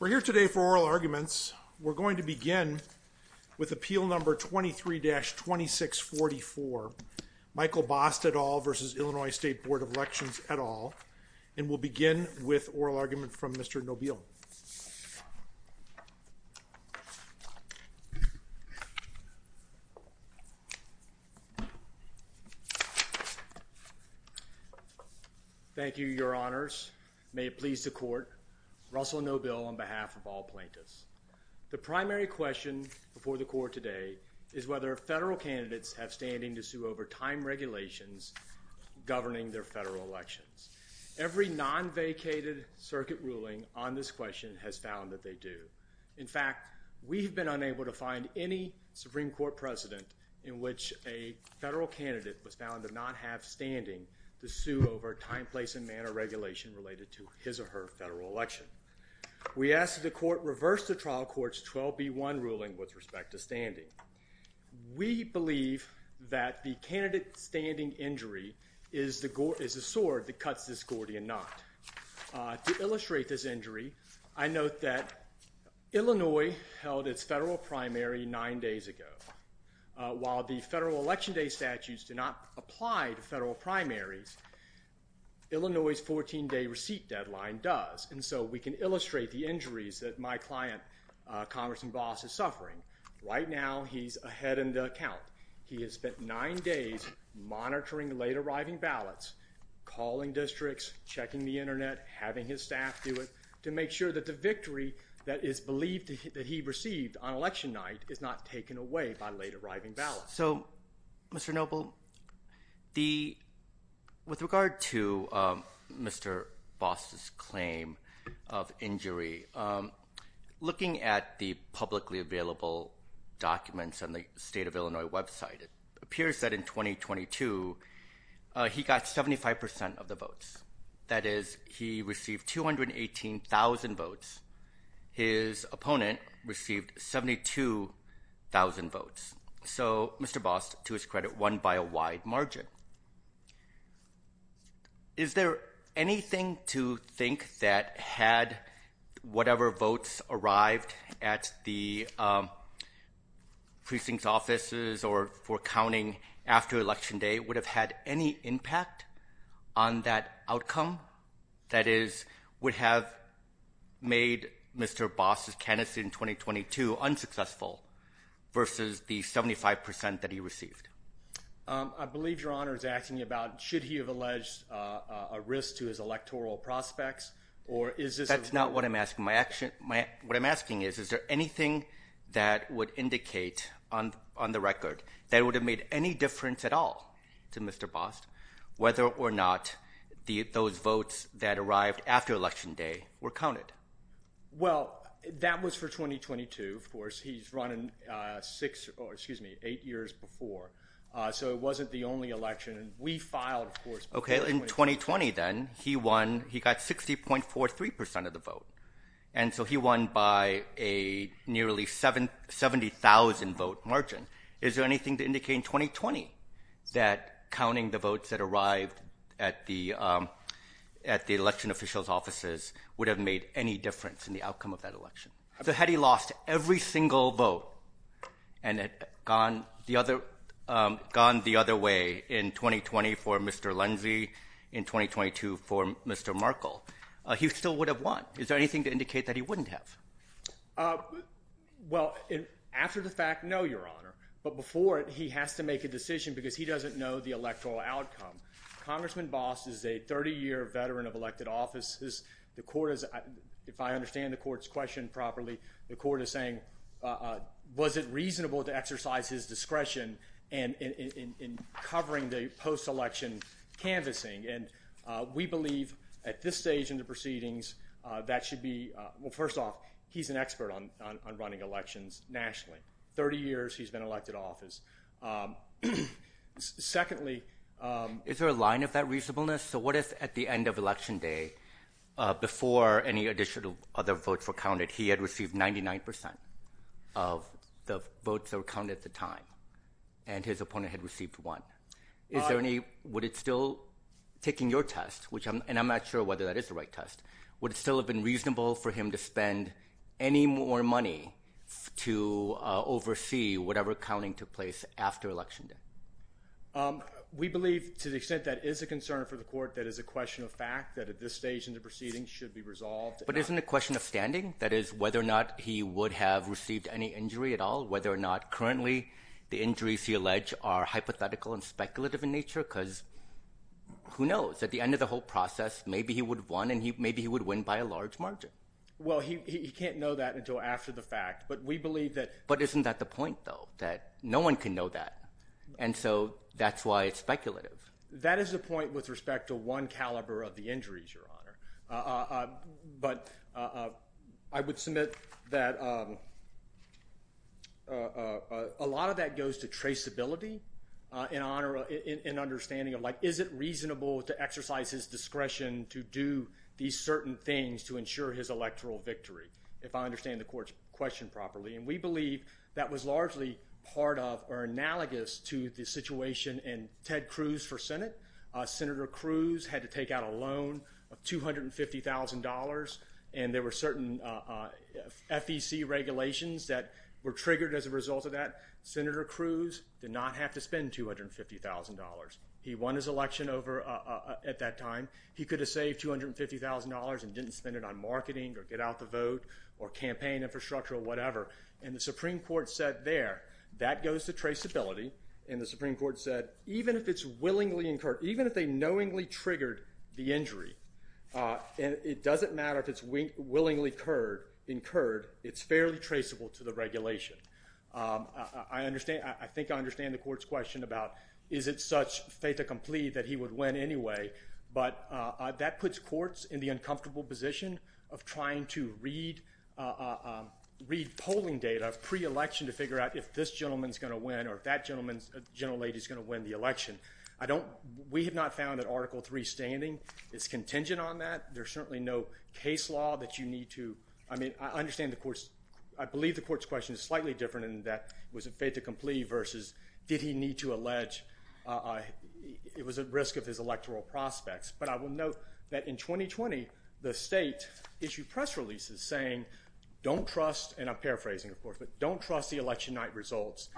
We're here today for oral arguments. We're going to begin with appeal number 23-2644, Michael Bost et al. v. Illinois State Board of Elections et al., and we'll begin with oral argument from Mr. Nobile. Thank you, your honors. May it please the court. Russell Nobile on behalf of all plaintiffs. The primary question before the court today is whether federal candidates have standing to sue over time regulations governing their federal elections. Every non-vacated circuit ruling on this question has found that they do. In fact, we've been unable to find any Supreme Court precedent in which a federal candidate was found to not have standing to sue over time, place, and manner regulation related to his or her federal election. We ask that the court reverse the trial court's 12B1 ruling with respect to standing. We believe that the candidate standing injury is the sword that cuts this Gordian knot. To illustrate this injury, I note that Illinois held its federal primary nine days ago. While the federal election day statutes do not apply to federal primaries, Illinois' 14-day receipt deadline does, and so we can illustrate the injuries that my client, Congressman Bost, is suffering. Right now, he's ahead in the count. He has spent nine days monitoring late-arriving ballots, calling districts, checking the Internet, having his staff do it, to make sure that the victory that is believed that he received on election night is not taken away by late-arriving ballots. So, Mr. Noble, with regard to Mr. Bost's claim of injury, looking at the publicly available documents on the State of Illinois website, it appears that in 2022, he got 75% of the votes. That is, he received 218,000 votes. His opponent received 72,000 votes. So, Mr. Bost, to his credit, won by a wide margin. Is there anything to think that had whatever votes arrived at the precinct offices or for counting after election day would have had any impact on that outcome? That is, would have made Mr. Bost's candidacy in 2022 unsuccessful versus the 75% that he received? I believe Your Honor is asking about should he have alleged a risk to his electoral prospects, or is this— That's not what I'm asking. What I'm asking is, is there anything that would indicate on the record that would have made any difference at all to Mr. Bost, whether or not those votes that arrived after election day were counted? Well, that was for 2022, of course. He's running six—or excuse me, eight years before. So, it wasn't the only election. We filed, of course— Okay. In 2020, then, he won—he got 60.43% of the vote. And so, he won by a nearly 70,000-vote margin. Is there anything to indicate in 2020 that counting the votes that arrived at the election officials' offices would have made any difference in the outcome of that election? So, had he lost every single vote and had gone the other way in 2020 for Mr. Lindsey, in 2022 for Mr. Markle, he still would have won. Is there anything to indicate that he wouldn't have? Well, after the fact, no, Your Honor. But before it, he has to make a decision because he doesn't know the electoral outcome. Congressman Bost is a 30-year veteran of elected offices. The court is—if I understand the court's question properly, the court is saying, was it reasonable to exercise his discretion in covering the post-election canvassing? And we believe, at this stage in the proceedings, that should be—well, first off, he's an expert on running elections nationally. Thirty years he's been elected office. Secondly— Is there a line of that reasonableness? So, what if at the end of Election Day, before any additional other votes were counted, he had received 99% of the votes that were counted at the time, and his opponent had received one? Is there any—would it still—taking your test, which—and I'm not sure whether that is the right test—would it still have been reasonable for him to spend any more money to oversee whatever counting took place after Election Day? We believe, to the extent that is a concern for the court, that is a question of fact, that at this stage in the proceedings should be resolved. But isn't it a question of standing? That is, whether or not he would have received any injury at all, whether or not currently the injuries he alleged are hypothetical and speculative in nature? Because who knows? At the end of the whole process, maybe he would have won, and maybe he would win by a large margin. Well, he can't know that until after the fact. But we believe that— But isn't that the point, though, that no one can know that? And so that's why it's speculative. But I would submit that a lot of that goes to traceability in understanding of, like, is it reasonable to exercise his discretion to do these certain things to ensure his electoral victory, if I understand the court's question properly? And we believe that was largely part of or analogous to the situation in Ted Cruz for Senate. Senator Cruz had to take out a loan of $250,000, and there were certain FEC regulations that were triggered as a result of that. Senator Cruz did not have to spend $250,000. He won his election over at that time. He could have saved $250,000 and didn't spend it on marketing or get out the vote or campaign infrastructure or whatever. And the Supreme Court said there, that goes to traceability. And the Supreme Court said, even if it's willingly incurred—even if they knowingly triggered the injury, and it doesn't matter if it's willingly incurred, it's fairly traceable to the regulation. I think I understand the court's question about, is it such fait accompli that he would win anyway? But that puts courts in the uncomfortable position of trying to read polling data pre-election to figure out if this gentleman's going to win or if that gentleman's—general lady's going to win the election. I don't—we have not found that Article III standing is contingent on that. There's certainly no case law that you need to—I mean, I understand the court's—I believe the court's question is slightly different in that it was a fait accompli versus did he need to allege— But I will note that in 2020, the state issued press releases saying, don't trust—and I'm paraphrasing, of course, but don't trust the election night results.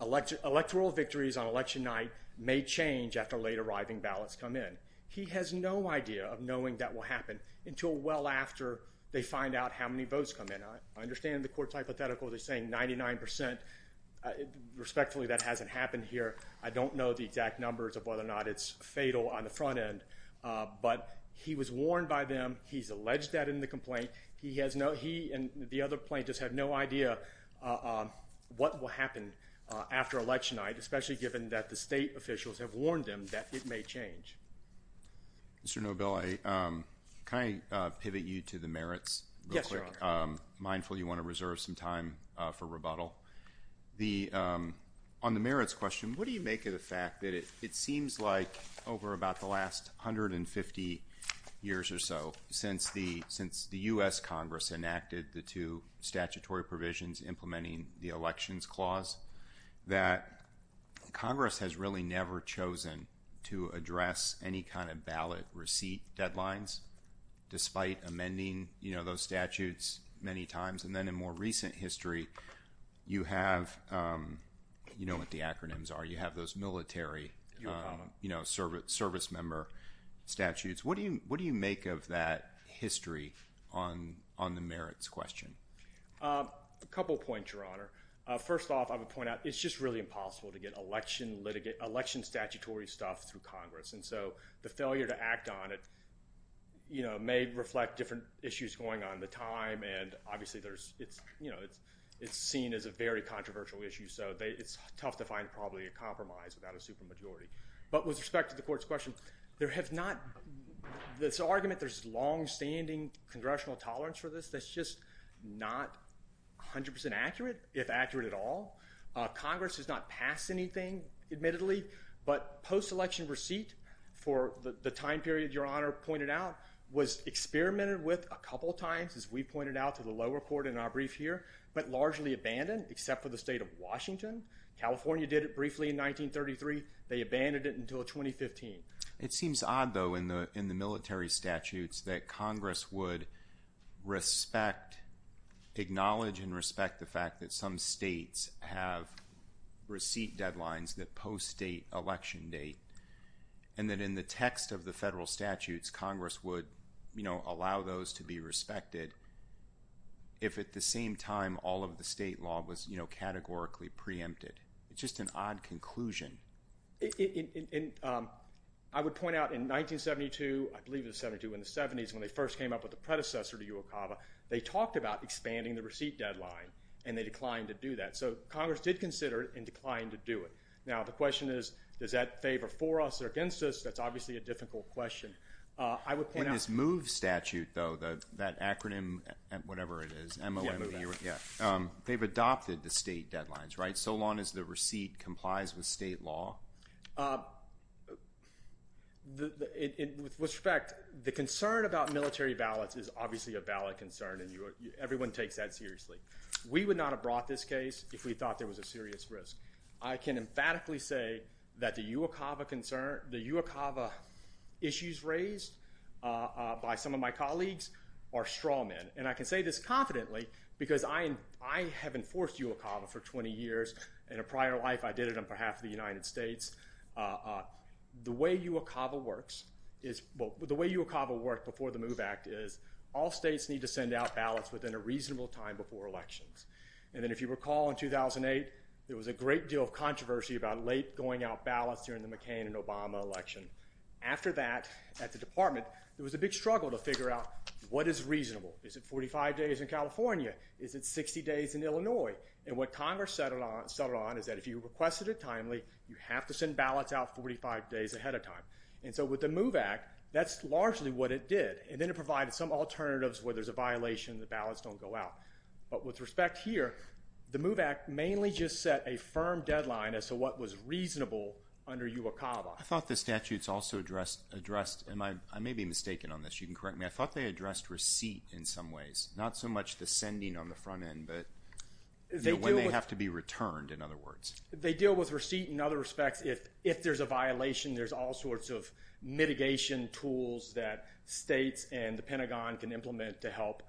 Electoral victories on election night may change after late arriving ballots come in. He has no idea of knowing that will happen until well after they find out how many votes come in. I understand the court's hypothetical. They're saying 99 percent. Respectfully, that hasn't happened here. I don't know the exact numbers of whether or not it's fatal on the front end, but he was warned by them. He's alleged that in the complaint. He has no—he and the other plaintiffs have no idea what will happen after election night, especially given that the state officials have warned him that it may change. Mr. Nobel, can I pivot you to the merits real quick? Yes, Your Honor. Mindful you want to reserve some time for rebuttal. On the merits question, what do you make of the fact that it seems like over about the last 150 years or so, since the U.S. Congress enacted the two statutory provisions implementing the Elections Clause, that Congress has really never chosen to address any kind of ballot receipt deadlines despite amending those statutes many times? And then in more recent history, you have—you know what the acronyms are. You have those military service member statutes. What do you make of that history on the merits question? A couple points, Your Honor. First off, I would point out it's just really impossible to get election statutory stuff through Congress. And so the failure to act on it, you know, may reflect different issues going on at the time. And obviously there's—you know, it's seen as a very controversial issue. So it's tough to find probably a compromise without a supermajority. But with respect to the court's question, there have not—this argument there's longstanding congressional tolerance for this. That's just not 100 percent accurate, if accurate at all. Congress has not passed anything, admittedly. But post-election receipt for the time period Your Honor pointed out was experimented with a couple times, as we pointed out to the lower court in our brief here, but largely abandoned, except for the state of Washington. California did it briefly in 1933. They abandoned it until 2015. It seems odd, though, in the military statutes that Congress would respect—acknowledge and respect the fact that some states have receipt deadlines that post-state election date, and that in the text of the federal statutes Congress would, you know, allow those to be respected if at the same time all of the state law was, you know, categorically preempted. It's just an odd conclusion. And I would point out in 1972, I believe it was 1972, in the 70s, when they first came up with the predecessor to UOCAVA, they talked about expanding the receipt deadline, and they declined to do that. So Congress did consider it and declined to do it. Now, the question is, does that favor for us or against us? That's obviously a difficult question. I would point out— In this MOVE statute, though, that acronym, whatever it is, M-O-M-V-E, they've adopted the state deadlines, right? So long as the receipt complies with state law. With respect, the concern about military ballots is obviously a ballot concern, and everyone takes that seriously. We would not have brought this case if we thought there was a serious risk. I can emphatically say that the UOCAVA issues raised by some of my colleagues are straw men. And I can say this confidently because I have enforced UOCAVA for 20 years. In a prior life, I did it on behalf of the United States. The way UOCAVA works is—well, the way UOCAVA worked before the MOVE Act is all states need to send out ballots within a reasonable time before elections. And then if you recall in 2008, there was a great deal of controversy about late going out ballots during the McCain and Obama election. After that, at the department, there was a big struggle to figure out what is reasonable. Is it 45 days in California? Is it 60 days in Illinois? And what Congress settled on is that if you requested it timely, you have to send ballots out 45 days ahead of time. And so with the MOVE Act, that's largely what it did. And then it provided some alternatives where there's a violation, the ballots don't go out. But with respect here, the MOVE Act mainly just set a firm deadline as to what was reasonable under UOCAVA. I thought the statutes also addressed—and I may be mistaken on this, you can correct me. I thought they addressed receipt in some ways, not so much the sending on the front end, but when they have to be returned, in other words. They deal with receipt in other respects. If there's a violation, there's all sorts of mitigation tools that states and the Pentagon can implement to help.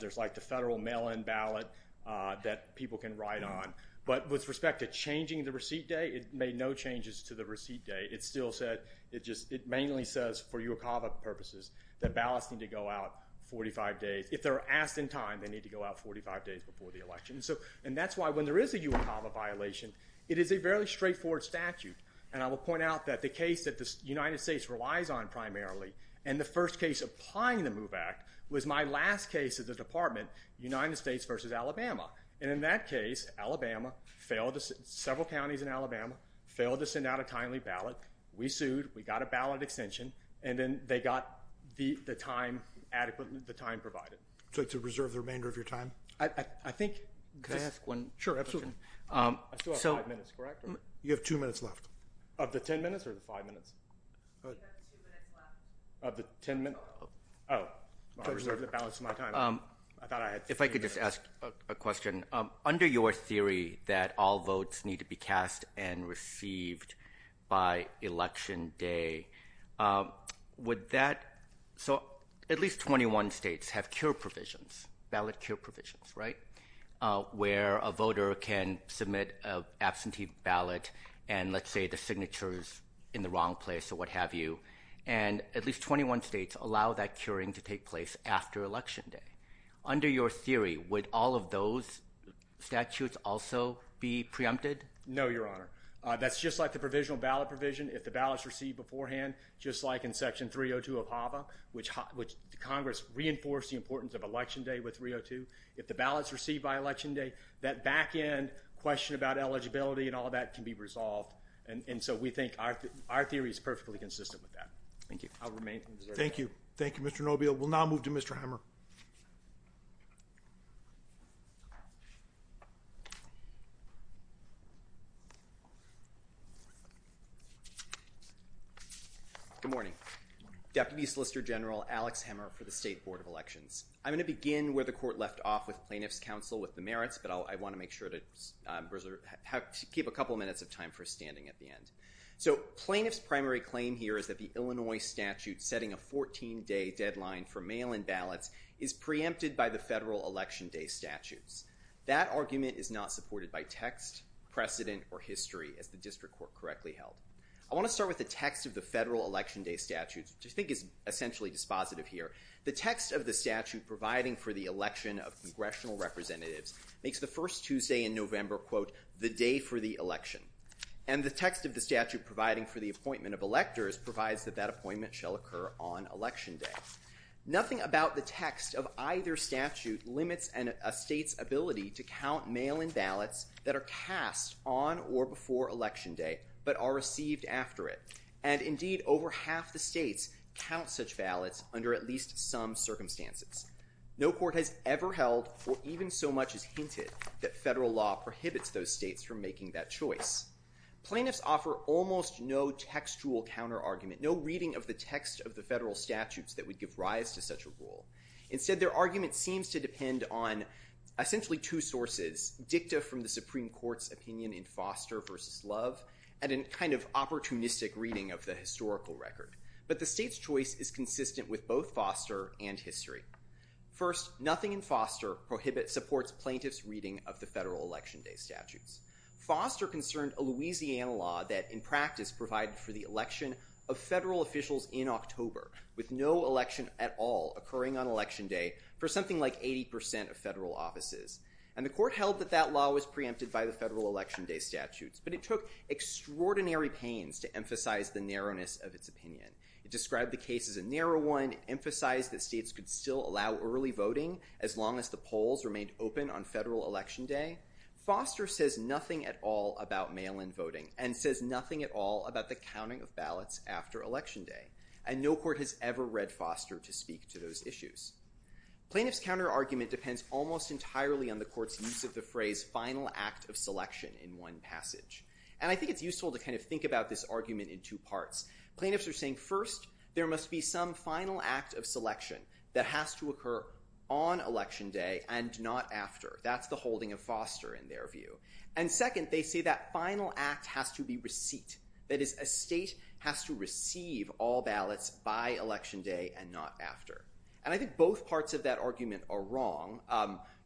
There's like the federal mail-in ballot that people can write on. But with respect to changing the receipt day, it made no changes to the receipt day. It mainly says for UOCAVA purposes that ballots need to go out 45 days. If they're asked in time, they need to go out 45 days before the election. And that's why when there is a UOCAVA violation, it is a fairly straightforward statute. And I will point out that the case that the United States relies on primarily and the first case applying the MOVE Act was my last case at the Department, United States versus Alabama. And in that case, Alabama failed to—several counties in Alabama failed to send out a timely ballot. We sued. We got a ballot extension. And then they got the time adequately—the time provided. So to reserve the remainder of your time? Could I ask one question? Sure, absolutely. I still have five minutes, correct? You have two minutes left. Of the ten minutes or the five minutes? You have two minutes left. Of the ten minutes? Oh. I reserved the balance of my time. If I could just ask a question. Under your theory that all votes need to be cast and received by Election Day, would that—so at least 21 states have cure provisions, ballot cure provisions, right, where a voter can submit an absentee ballot and, let's say, the signature is in the wrong place or what have you. And at least 21 states allow that curing to take place after Election Day. Under your theory, would all of those statutes also be preempted? No, Your Honor. That's just like the provisional ballot provision. If the ballot's received beforehand, just like in Section 302 of HAVA, which Congress reinforced the importance of Election Day with 302, if the ballot's received by Election Day, that back-end question about eligibility and all that can be resolved. And so we think our theory is perfectly consistent with that. Thank you. I'll remain in reserve. Thank you. Thank you, Mr. Nobile. We'll now move to Mr. Hammer. Good morning. Deputy Solicitor General Alex Hammer for the State Board of Elections. I'm going to begin where the Court left off with Plaintiff's Counsel with the merits, but I want to make sure to keep a couple minutes of time for standing at the end. So Plaintiff's primary claim here is that the Illinois statute setting a 14-day deadline for mail-in ballots is preempted by the federal Election Day statutes. That argument is not supported by text, precedent, or history, as the District Court correctly held. I want to start with the text of the federal Election Day statutes, which I think is essentially dispositive here. The text of the statute providing for the election of congressional representatives makes the first Tuesday in November, quote, the day for the election. And the text of the statute providing for the appointment of electors provides that that appointment shall occur on Election Day. Nothing about the text of either statute limits a state's ability to count mail-in ballots that are cast on or before Election Day but are received after it. And indeed, over half the states count such ballots under at least some circumstances. No court has ever held, or even so much as hinted, that federal law prohibits those states from making that choice. Plaintiffs offer almost no textual counterargument, no reading of the text of the federal statutes that would give rise to such a rule. Instead, their argument seems to depend on essentially two sources, dicta from the Supreme Court's opinion in Foster v. Love and a kind of opportunistic reading of the historical record. But the state's choice is consistent with both Foster and history. First, nothing in Foster supports plaintiffs' reading of the federal Election Day statutes. Foster concerned a Louisiana law that, in practice, provided for the election of federal officials in October with no election at all occurring on Election Day for something like 80% of federal offices. And the court held that that law was preempted by the federal Election Day statutes. But it took extraordinary pains to emphasize the narrowness of its opinion. It described the case as a narrow one, and it emphasized that states could still allow early voting as long as the polls remained open on federal Election Day. Foster says nothing at all about mail-in voting and says nothing at all about the counting of ballots after Election Day. And no court has ever read Foster to speak to those issues. Plaintiffs' counterargument depends almost entirely on the court's use of the phrase final act of selection in one passage. And I think it's useful to kind of think about this argument in two parts. Plaintiffs are saying, first, there must be some final act of selection that has to occur on Election Day and not after. That's the holding of Foster in their view. And second, they say that final act has to be receipt. That is, a state has to receive all ballots by Election Day and not after. And I think both parts of that argument are wrong.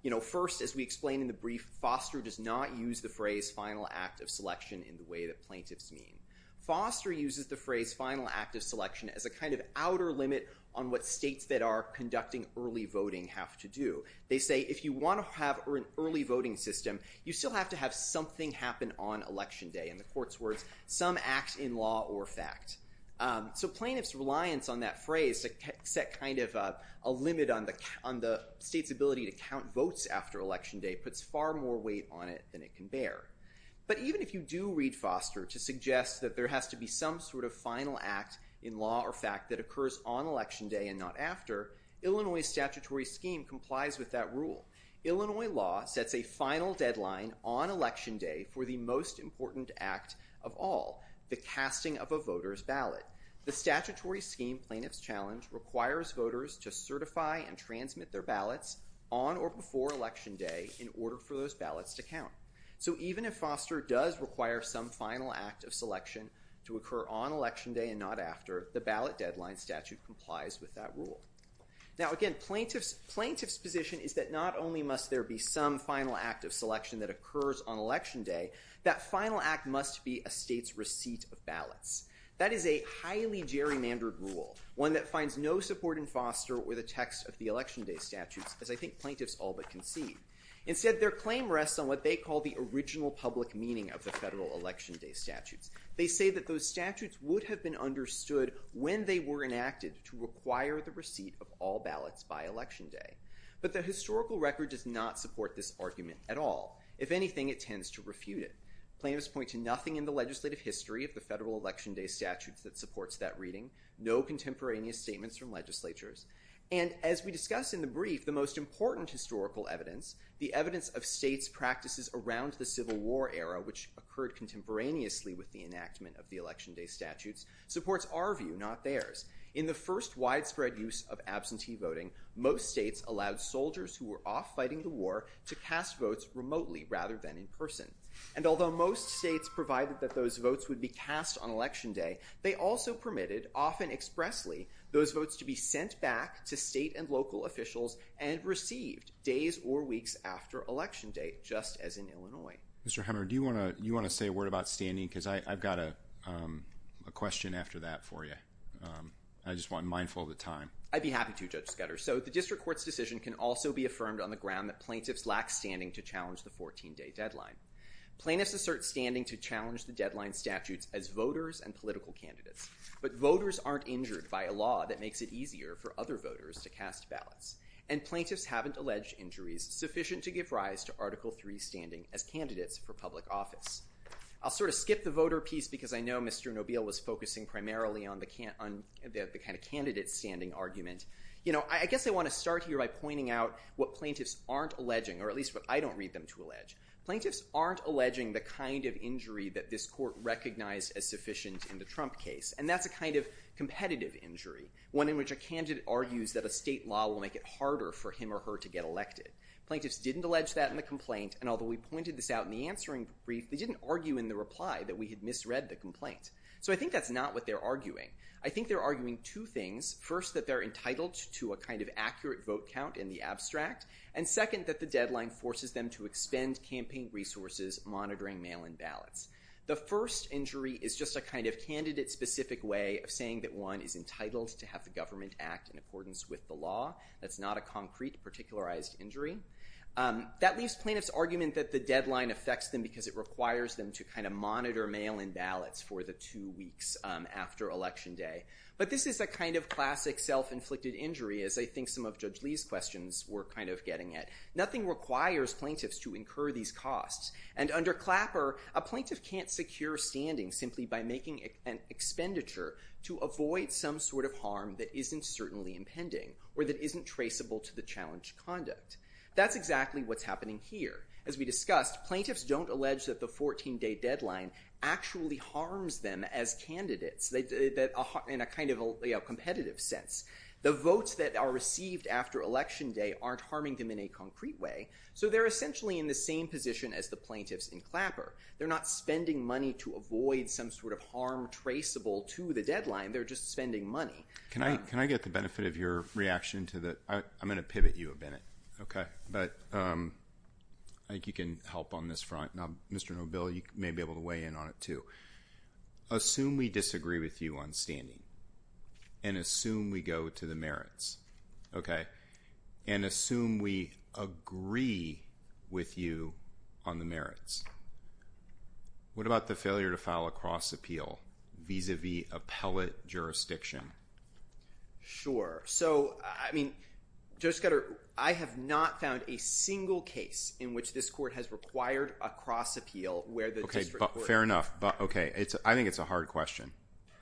You know, first, as we explain in the brief, Foster does not use the phrase final act of selection in the way that plaintiffs mean. Foster uses the phrase final act of selection as a kind of outer limit on what states that are conducting early voting have to do. They say if you want to have an early voting system, you still have to have something happen on Election Day. In the court's words, some act in law or fact. So plaintiffs' reliance on that phrase to set kind of a limit on the state's ability to count votes after Election Day puts far more weight on it than it can bear. But even if you do read Foster to suggest that there has to be some sort of final act in law or fact that occurs on Election Day and not after, Illinois statutory scheme complies with that rule. Illinois law sets a final deadline on Election Day for the most important act of all, the casting of a voter's ballot. The statutory scheme plaintiff's challenge requires voters to certify and transmit their ballots on or before Election Day in order for those ballots to count. So even if Foster does require some final act of selection to occur on Election Day and not after, the ballot deadline statute complies with that rule. Now again, plaintiff's position is that not only must there be some final act of selection that occurs on Election Day, that final act must be a state's receipt of ballots. That is a highly gerrymandered rule, one that finds no support in Foster or the text of the Election Day statutes, as I think plaintiffs all but concede. Instead, their claim rests on what they call the original public meaning of the federal Election Day statutes. They say that those statutes would have been understood when they were enacted to require the receipt of all ballots by Election Day. But the historical record does not support this argument at all. If anything, it tends to refute it. Plaintiffs point to nothing in the legislative history of the federal Election Day statutes that supports that reading, no contemporaneous statements from legislatures. And as we discussed in the brief, the most important historical evidence, the evidence of states' practices around the Civil War era, which occurred contemporaneously with the enactment of the Election Day statutes, supports our view, not theirs. In the first widespread use of absentee voting, most states allowed soldiers who were off fighting the war to cast votes remotely rather than in person. And although most states provided that those votes would be cast on Election Day, they also permitted, often expressly, those votes to be sent back to state and local officials and received days or weeks after Election Day, just as in Illinois. Mr. Hammer, do you want to say a word about standing? Because I've got a question after that for you. I just want to be mindful of the time. I'd be happy to, Judge Skudder. So the district court's decision can also be affirmed on the ground that plaintiffs lack standing to challenge the 14-day deadline. Plaintiffs assert standing to challenge the deadline statutes as voters and political candidates. But voters aren't injured by a law that makes it easier for other voters to cast ballots. And plaintiffs haven't alleged injuries sufficient to give rise to Article III standing as candidates for public office. I'll sort of skip the voter piece because I know Mr. Nobile was focusing primarily on the kind of candidate standing argument. You know, I guess I want to start here by pointing out what plaintiffs aren't alleging, or at least what I don't read them to allege. Plaintiffs aren't alleging the kind of injury that this court recognized as sufficient in the Trump case. And that's a kind of competitive injury, one in which a candidate argues that a state law will make it harder for him or her to get elected. Plaintiffs didn't allege that in the complaint. And although we pointed this out in the answering brief, they didn't argue in the reply that we had misread the complaint. So I think that's not what they're arguing. I think they're arguing two things. First, that they're entitled to a kind of accurate vote count in the abstract. And second, that the deadline forces them to expend campaign resources monitoring mail-in ballots. The first injury is just a kind of candidate-specific way of saying that one is entitled to have the government act in accordance with the law. That's not a concrete, particularized injury. That leaves plaintiffs' argument that the deadline affects them because it requires them to kind of monitor mail-in ballots for the two weeks after Election Day. But this is a kind of classic self-inflicted injury, as I think some of Judge Lee's questions were kind of getting at. Nothing requires plaintiffs to incur these costs. And under Clapper, a plaintiff can't secure standing simply by making an expenditure to avoid some sort of harm that isn't certainly impending or that isn't traceable to the challenge conduct. That's exactly what's happening here. As we discussed, plaintiffs don't allege that the 14-day deadline actually harms them as candidates in a kind of competitive sense. The votes that are received after Election Day aren't harming them in a concrete way. So they're essentially in the same position as the plaintiffs in Clapper. They're not spending money to avoid some sort of harm traceable to the deadline. They're just spending money. Can I get the benefit of your reaction to the – I'm going to pivot you a minute. Okay. But I think you can help on this front. Now, Mr. Nobil, you may be able to weigh in on it, too. Assume we disagree with you on standing and assume we go to the merits, okay, and assume we agree with you on the merits. What about the failure to file a cross-appeal vis-à-vis appellate jurisdiction? Sure. So, I mean, Judge Scudder, I have not found a single case in which this court has required a cross-appeal where the district court – Fair enough. Okay. I think it's a hard question.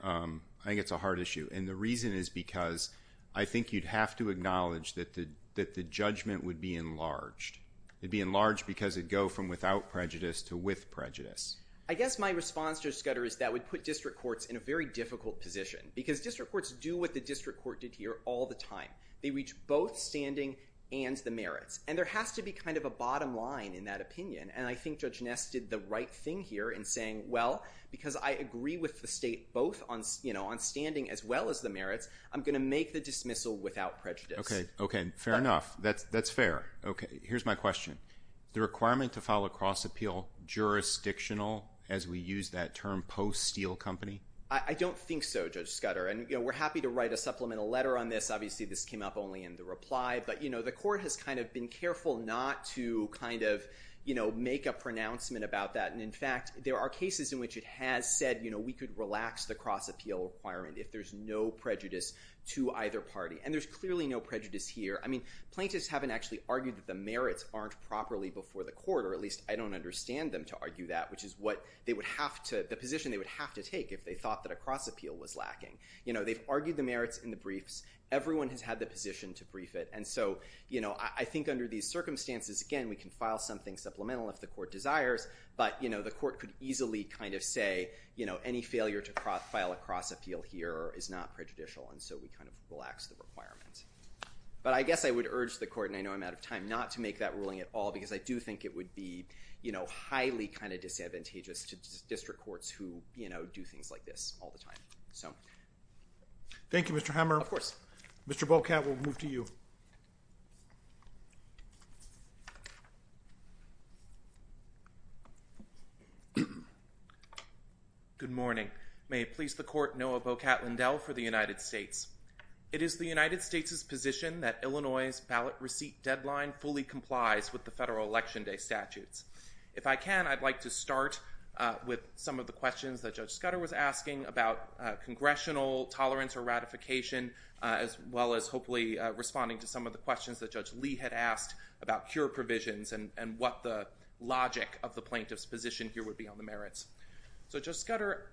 I think it's a hard issue, and the reason is because I think you'd have to acknowledge that the judgment would be enlarged. It'd be enlarged because it'd go from without prejudice to with prejudice. I guess my response, Judge Scudder, is that would put district courts in a very difficult position because district courts do what the district court did here all the time. They reach both standing and the merits, and there has to be kind of a bottom line in that opinion, and I think Judge Ness did the right thing here in saying, well, because I agree with the state both on standing as well as the merits, I'm going to make the dismissal without prejudice. Okay. Okay. Fair enough. That's fair. Okay. Here's my question. The requirement to file a cross-appeal jurisdictional, as we use that term, post-Steele Company? I don't think so, Judge Scudder, and we're happy to write a supplemental letter on this. Obviously, this came up only in the reply, but the court has kind of been careful not to kind of make a pronouncement about that, and, in fact, there are cases in which it has said, you know, we could relax the cross-appeal requirement if there's no prejudice to either party, and there's clearly no prejudice here. I mean, plaintiffs haven't actually argued that the merits aren't properly before the court, or at least I don't understand them to argue that, which is the position they would have to take if they thought that a cross-appeal was lacking. You know, they've argued the merits in the briefs. Everyone has had the position to brief it, and so, you know, I think under these circumstances, again, we can file something supplemental if the court desires, but, you know, the court could easily kind of say, you know, any failure to file a cross-appeal here is not prejudicial, and so we kind of relax the requirement. But I guess I would urge the court, and I know I'm out of time, not to make that ruling at all because I do think it would be, you know, highly kind of disadvantageous to district courts who, you know, do things like this all the time. Thank you, Mr. Hammer. Of course. Mr. Bocat, we'll move to you. Good morning. May it please the court, Noah Bocat-Lindell for the United States. It is the United States' position that Illinois' ballot receipt deadline fully complies with the federal Election Day statutes. If I can, I'd like to start with some of the questions that Judge Scudder was asking about congressional tolerance or ratification as well as, hopefully, responding to some of the questions that Judge Lee had asked about cure provisions and what the logic of the plaintiff's position here would be on the merits. So, Judge Scudder,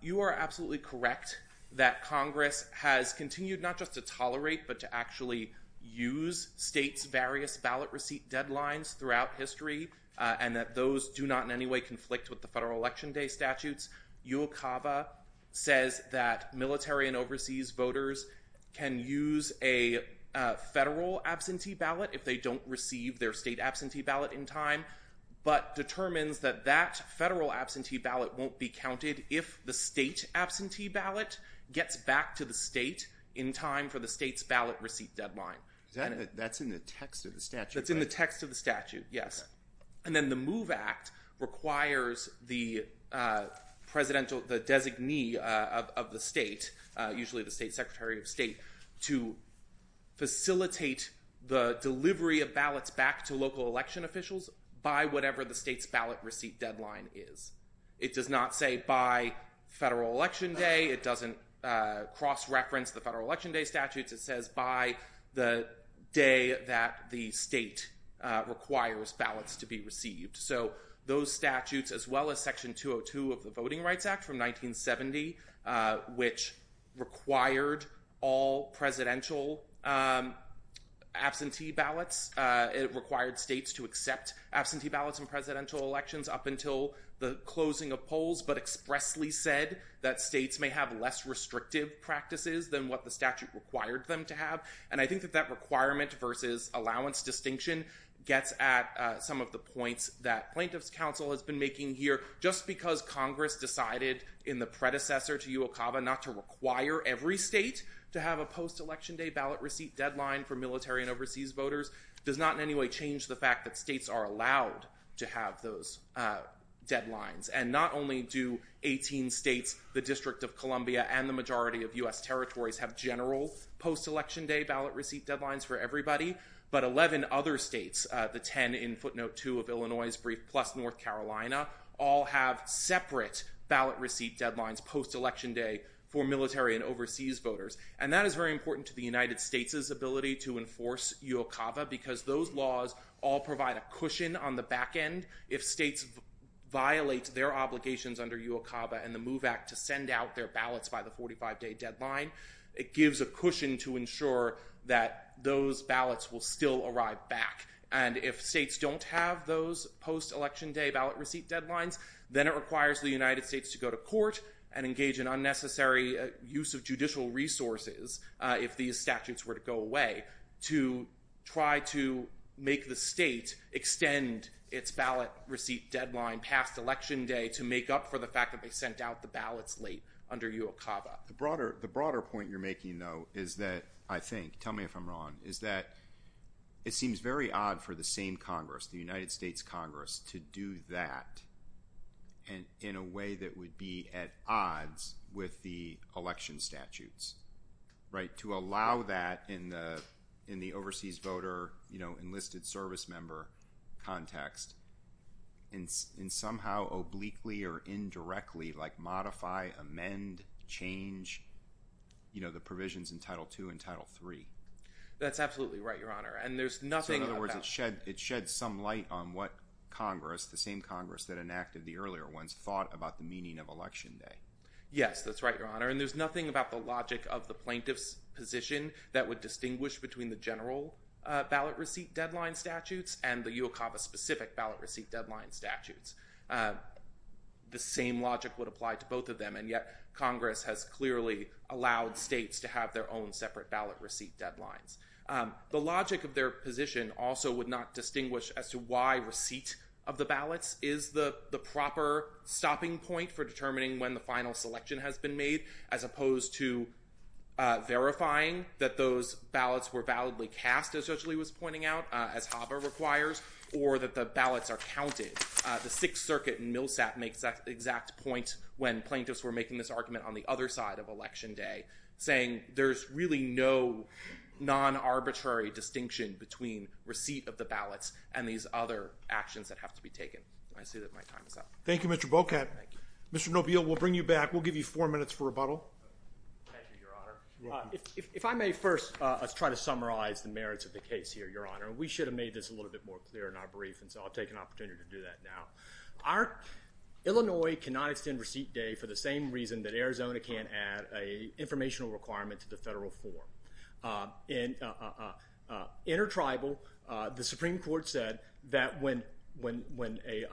you are absolutely correct that Congress has continued not just to tolerate but to actually use states' various ballot receipt deadlines throughout history and that those do not in any way conflict with the federal Election Day statutes. UOCAVA says that military and overseas voters can use a federal absentee ballot if they don't receive their state absentee ballot in time but determines that that federal absentee ballot won't be counted if the state absentee ballot gets back to the state in time for the state's ballot receipt deadline. That's in the text of the statute, right? That's in the text of the statute, yes. And then the MOVE Act requires the presidential, the designee of the state, usually the state secretary of state, to facilitate the delivery of ballots back to local election officials by whatever the state's ballot receipt deadline is. It does not say by federal Election Day. It doesn't cross-reference the federal Election Day statutes. It says by the day that the state requires ballots to be received. So those statutes, as well as Section 202 of the Voting Rights Act from 1970, which required all presidential absentee ballots, it required states to accept absentee ballots in presidential elections up until the closing of polls but expressly said that states may have less restrictive practices than what the statute required them to have. And I think that that requirement versus allowance distinction gets at some of the points that Plaintiffs' Council has been making here. Just because Congress decided in the predecessor to UOCAVA not to require every state to have a post-Election Day ballot receipt deadline for military and overseas voters does not in any way change the fact that states are allowed to have those deadlines. And not only do 18 states, the District of Columbia, and the majority of U.S. territories have general post-Election Day ballot receipt deadlines for everybody, but 11 other states, the 10 in footnote 2 of Illinois' brief plus North Carolina, all have separate ballot receipt deadlines post-Election Day for military and overseas voters. And that is very important to the United States' ability to enforce UOCAVA because those laws all provide a cushion on the back end. If states violate their obligations under UOCAVA and the MOVE Act to send out their ballots by the 45-day deadline, it gives a cushion to ensure that those ballots will still arrive back. And if states don't have those post-Election Day ballot receipt deadlines, then it requires the United States to go to court and engage in unnecessary use of judicial resources if these statutes were to go away to try to make the state extend its ballot receipt deadline past Election Day to make up for the fact that they sent out the ballots late under UOCAVA. The broader point you're making, though, is that I think, tell me if I'm wrong, is that it seems very odd for the same Congress, the United States Congress, to do that in a way that would be at odds with the election statutes, right? To allow that in the overseas voter, you know, enlisted service member context and somehow obliquely or indirectly, like, modify, amend, change, you know, the provisions in Title II and Title III. That's absolutely right, Your Honor, and there's nothing about that. It sheds some light on what Congress, the same Congress that enacted the earlier ones, thought about the meaning of Election Day. Yes, that's right, Your Honor, and there's nothing about the logic of the plaintiff's position that would distinguish between the general ballot receipt deadline statutes and the UOCAVA-specific ballot receipt deadline statutes. The same logic would apply to both of them, and yet Congress has clearly allowed states to have their own separate ballot receipt deadlines. The logic of their position also would not distinguish as to why receipt of the ballots is the proper stopping point for determining when the final selection has been made as opposed to verifying that those ballots were validly cast, as Judge Lee was pointing out, as HABA requires, or that the ballots are counted. The Sixth Circuit in Millsap makes that exact point when plaintiffs were making this argument on the other side of Election Day, saying there's really no non-arbitrary distinction between receipt of the ballots and these other actions that have to be taken. I see that my time is up. Thank you, Mr. Bocat. Thank you. Mr. Nobile, we'll bring you back. We'll give you four minutes for rebuttal. Thank you, Your Honor. You're welcome. If I may first try to summarize the merits of the case here, Your Honor, and we should have made this a little bit more clear in our brief, and so I'll take an opportunity to do that now. Illinois cannot extend receipt day for the same reason that Arizona can't add an informational requirement to the federal form. In intertribal, the Supreme Court said that when a...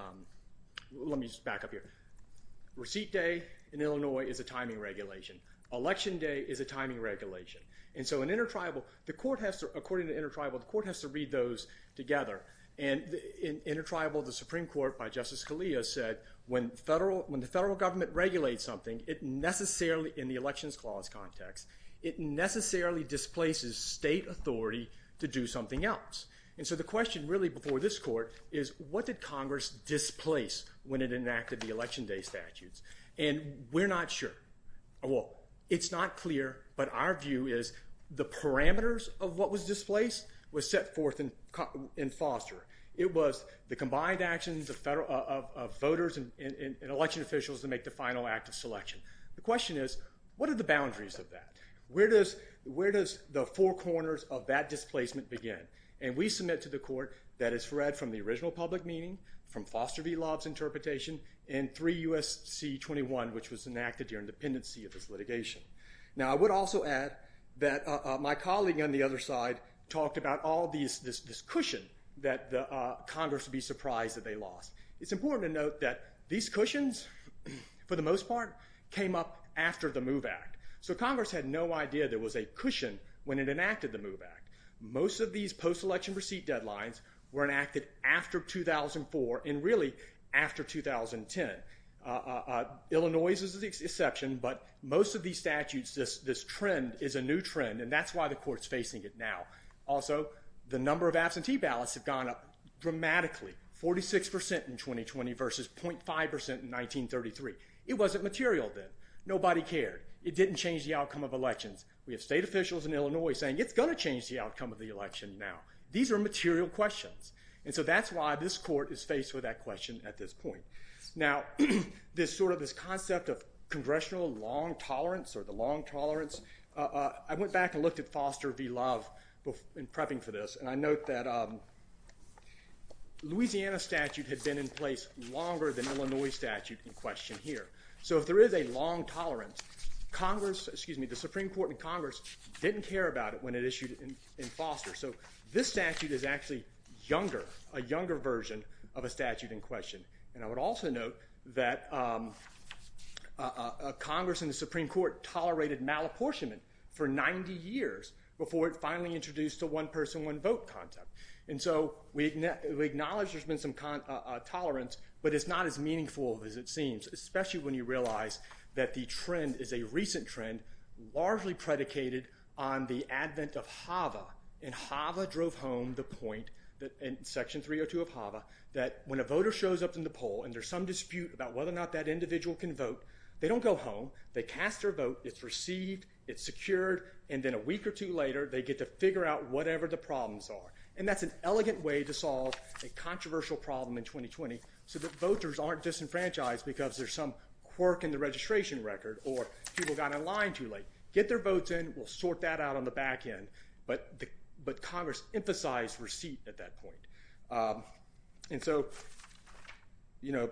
Let me just back up here. Receipt day in Illinois is a timing regulation. Election day is a timing regulation. And so in intertribal, the court has to, according to intertribal, the court has to read those together. And in intertribal, the Supreme Court, by Justice Scalia, said when the federal government regulates something, it necessarily, in the elections clause context, it necessarily displaces state authority to do something else. And so the question really before this court is what did Congress displace when it enacted the election day statutes? And we're not sure. Well, it's not clear, but our view is the parameters of what was displaced was set forth in Foster. It was the combined actions of voters and election officials to make the final act of selection. The question is what are the boundaries of that? Where does the four corners of that displacement begin? And we submit to the court that is read from the original public meeting, from Foster v. Lobb's interpretation, and 3 U.S.C. 21, which was enacted during dependency of this litigation. Now, I would also add that my colleague on the other side talked about all this cushion that Congress would be surprised that they lost. It's important to note that these cushions, for the most part, came up after the MOVE Act. So Congress had no idea there was a cushion when it enacted the MOVE Act. Most of these post-election receipt deadlines were enacted after 2004, and really after 2010. Illinois is the exception, but most of these statutes, this trend is a new trend, and that's why the court's facing it now. Also, the number of absentee ballots have gone up dramatically, 46% in 2020 versus 0.5% in 1933. It wasn't material then. Nobody cared. It didn't change the outcome of elections. We have state officials in Illinois saying it's going to change the outcome of the election now. These are material questions. And so that's why this court is faced with that question at this point. Now, this concept of congressional long tolerance or the long tolerance, I went back and looked at Foster v. Love in prepping for this, and I note that Louisiana statute had been in place longer than Illinois statute in question here. So if there is a long tolerance, the Supreme Court and Congress didn't care about it when it issued in Foster. So this statute is actually younger, a younger version of a statute in question. And I would also note that Congress and the Supreme Court tolerated malapportionment for 90 years before it finally introduced the one-person, one-vote concept. And so we acknowledge there's been some tolerance, but it's not as meaningful as it seems, especially when you realize that the trend is a recent trend largely predicated on the advent of HAVA, and HAVA drove home the point in Section 302 of HAVA that when a voter shows up in the poll and there's some dispute about whether or not that individual can vote, they don't go home. They cast their vote. It's received. It's secured. And then a week or two later, they get to figure out whatever the problems are. And that's an elegant way to solve a controversial problem in 2020 so that voters aren't disenfranchised because there's some quirk in the registration record or people got in line too late. Get their votes in. We'll sort that out on the back end. But Congress emphasized receipt at that point. And so, you know,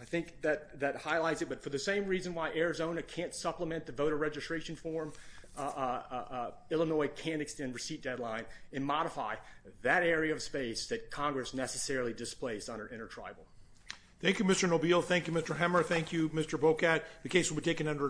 I think that highlights it, but for the same reason why Arizona can't supplement the voter registration form, Illinois can extend receipt deadline and modify that area of space that Congress necessarily displaced under intertribal. Thank you, Mr. Nobile. Thank you, Mr. Hemmer. Thank you, Mr. Bokad. With that, the case will be taken under advisement.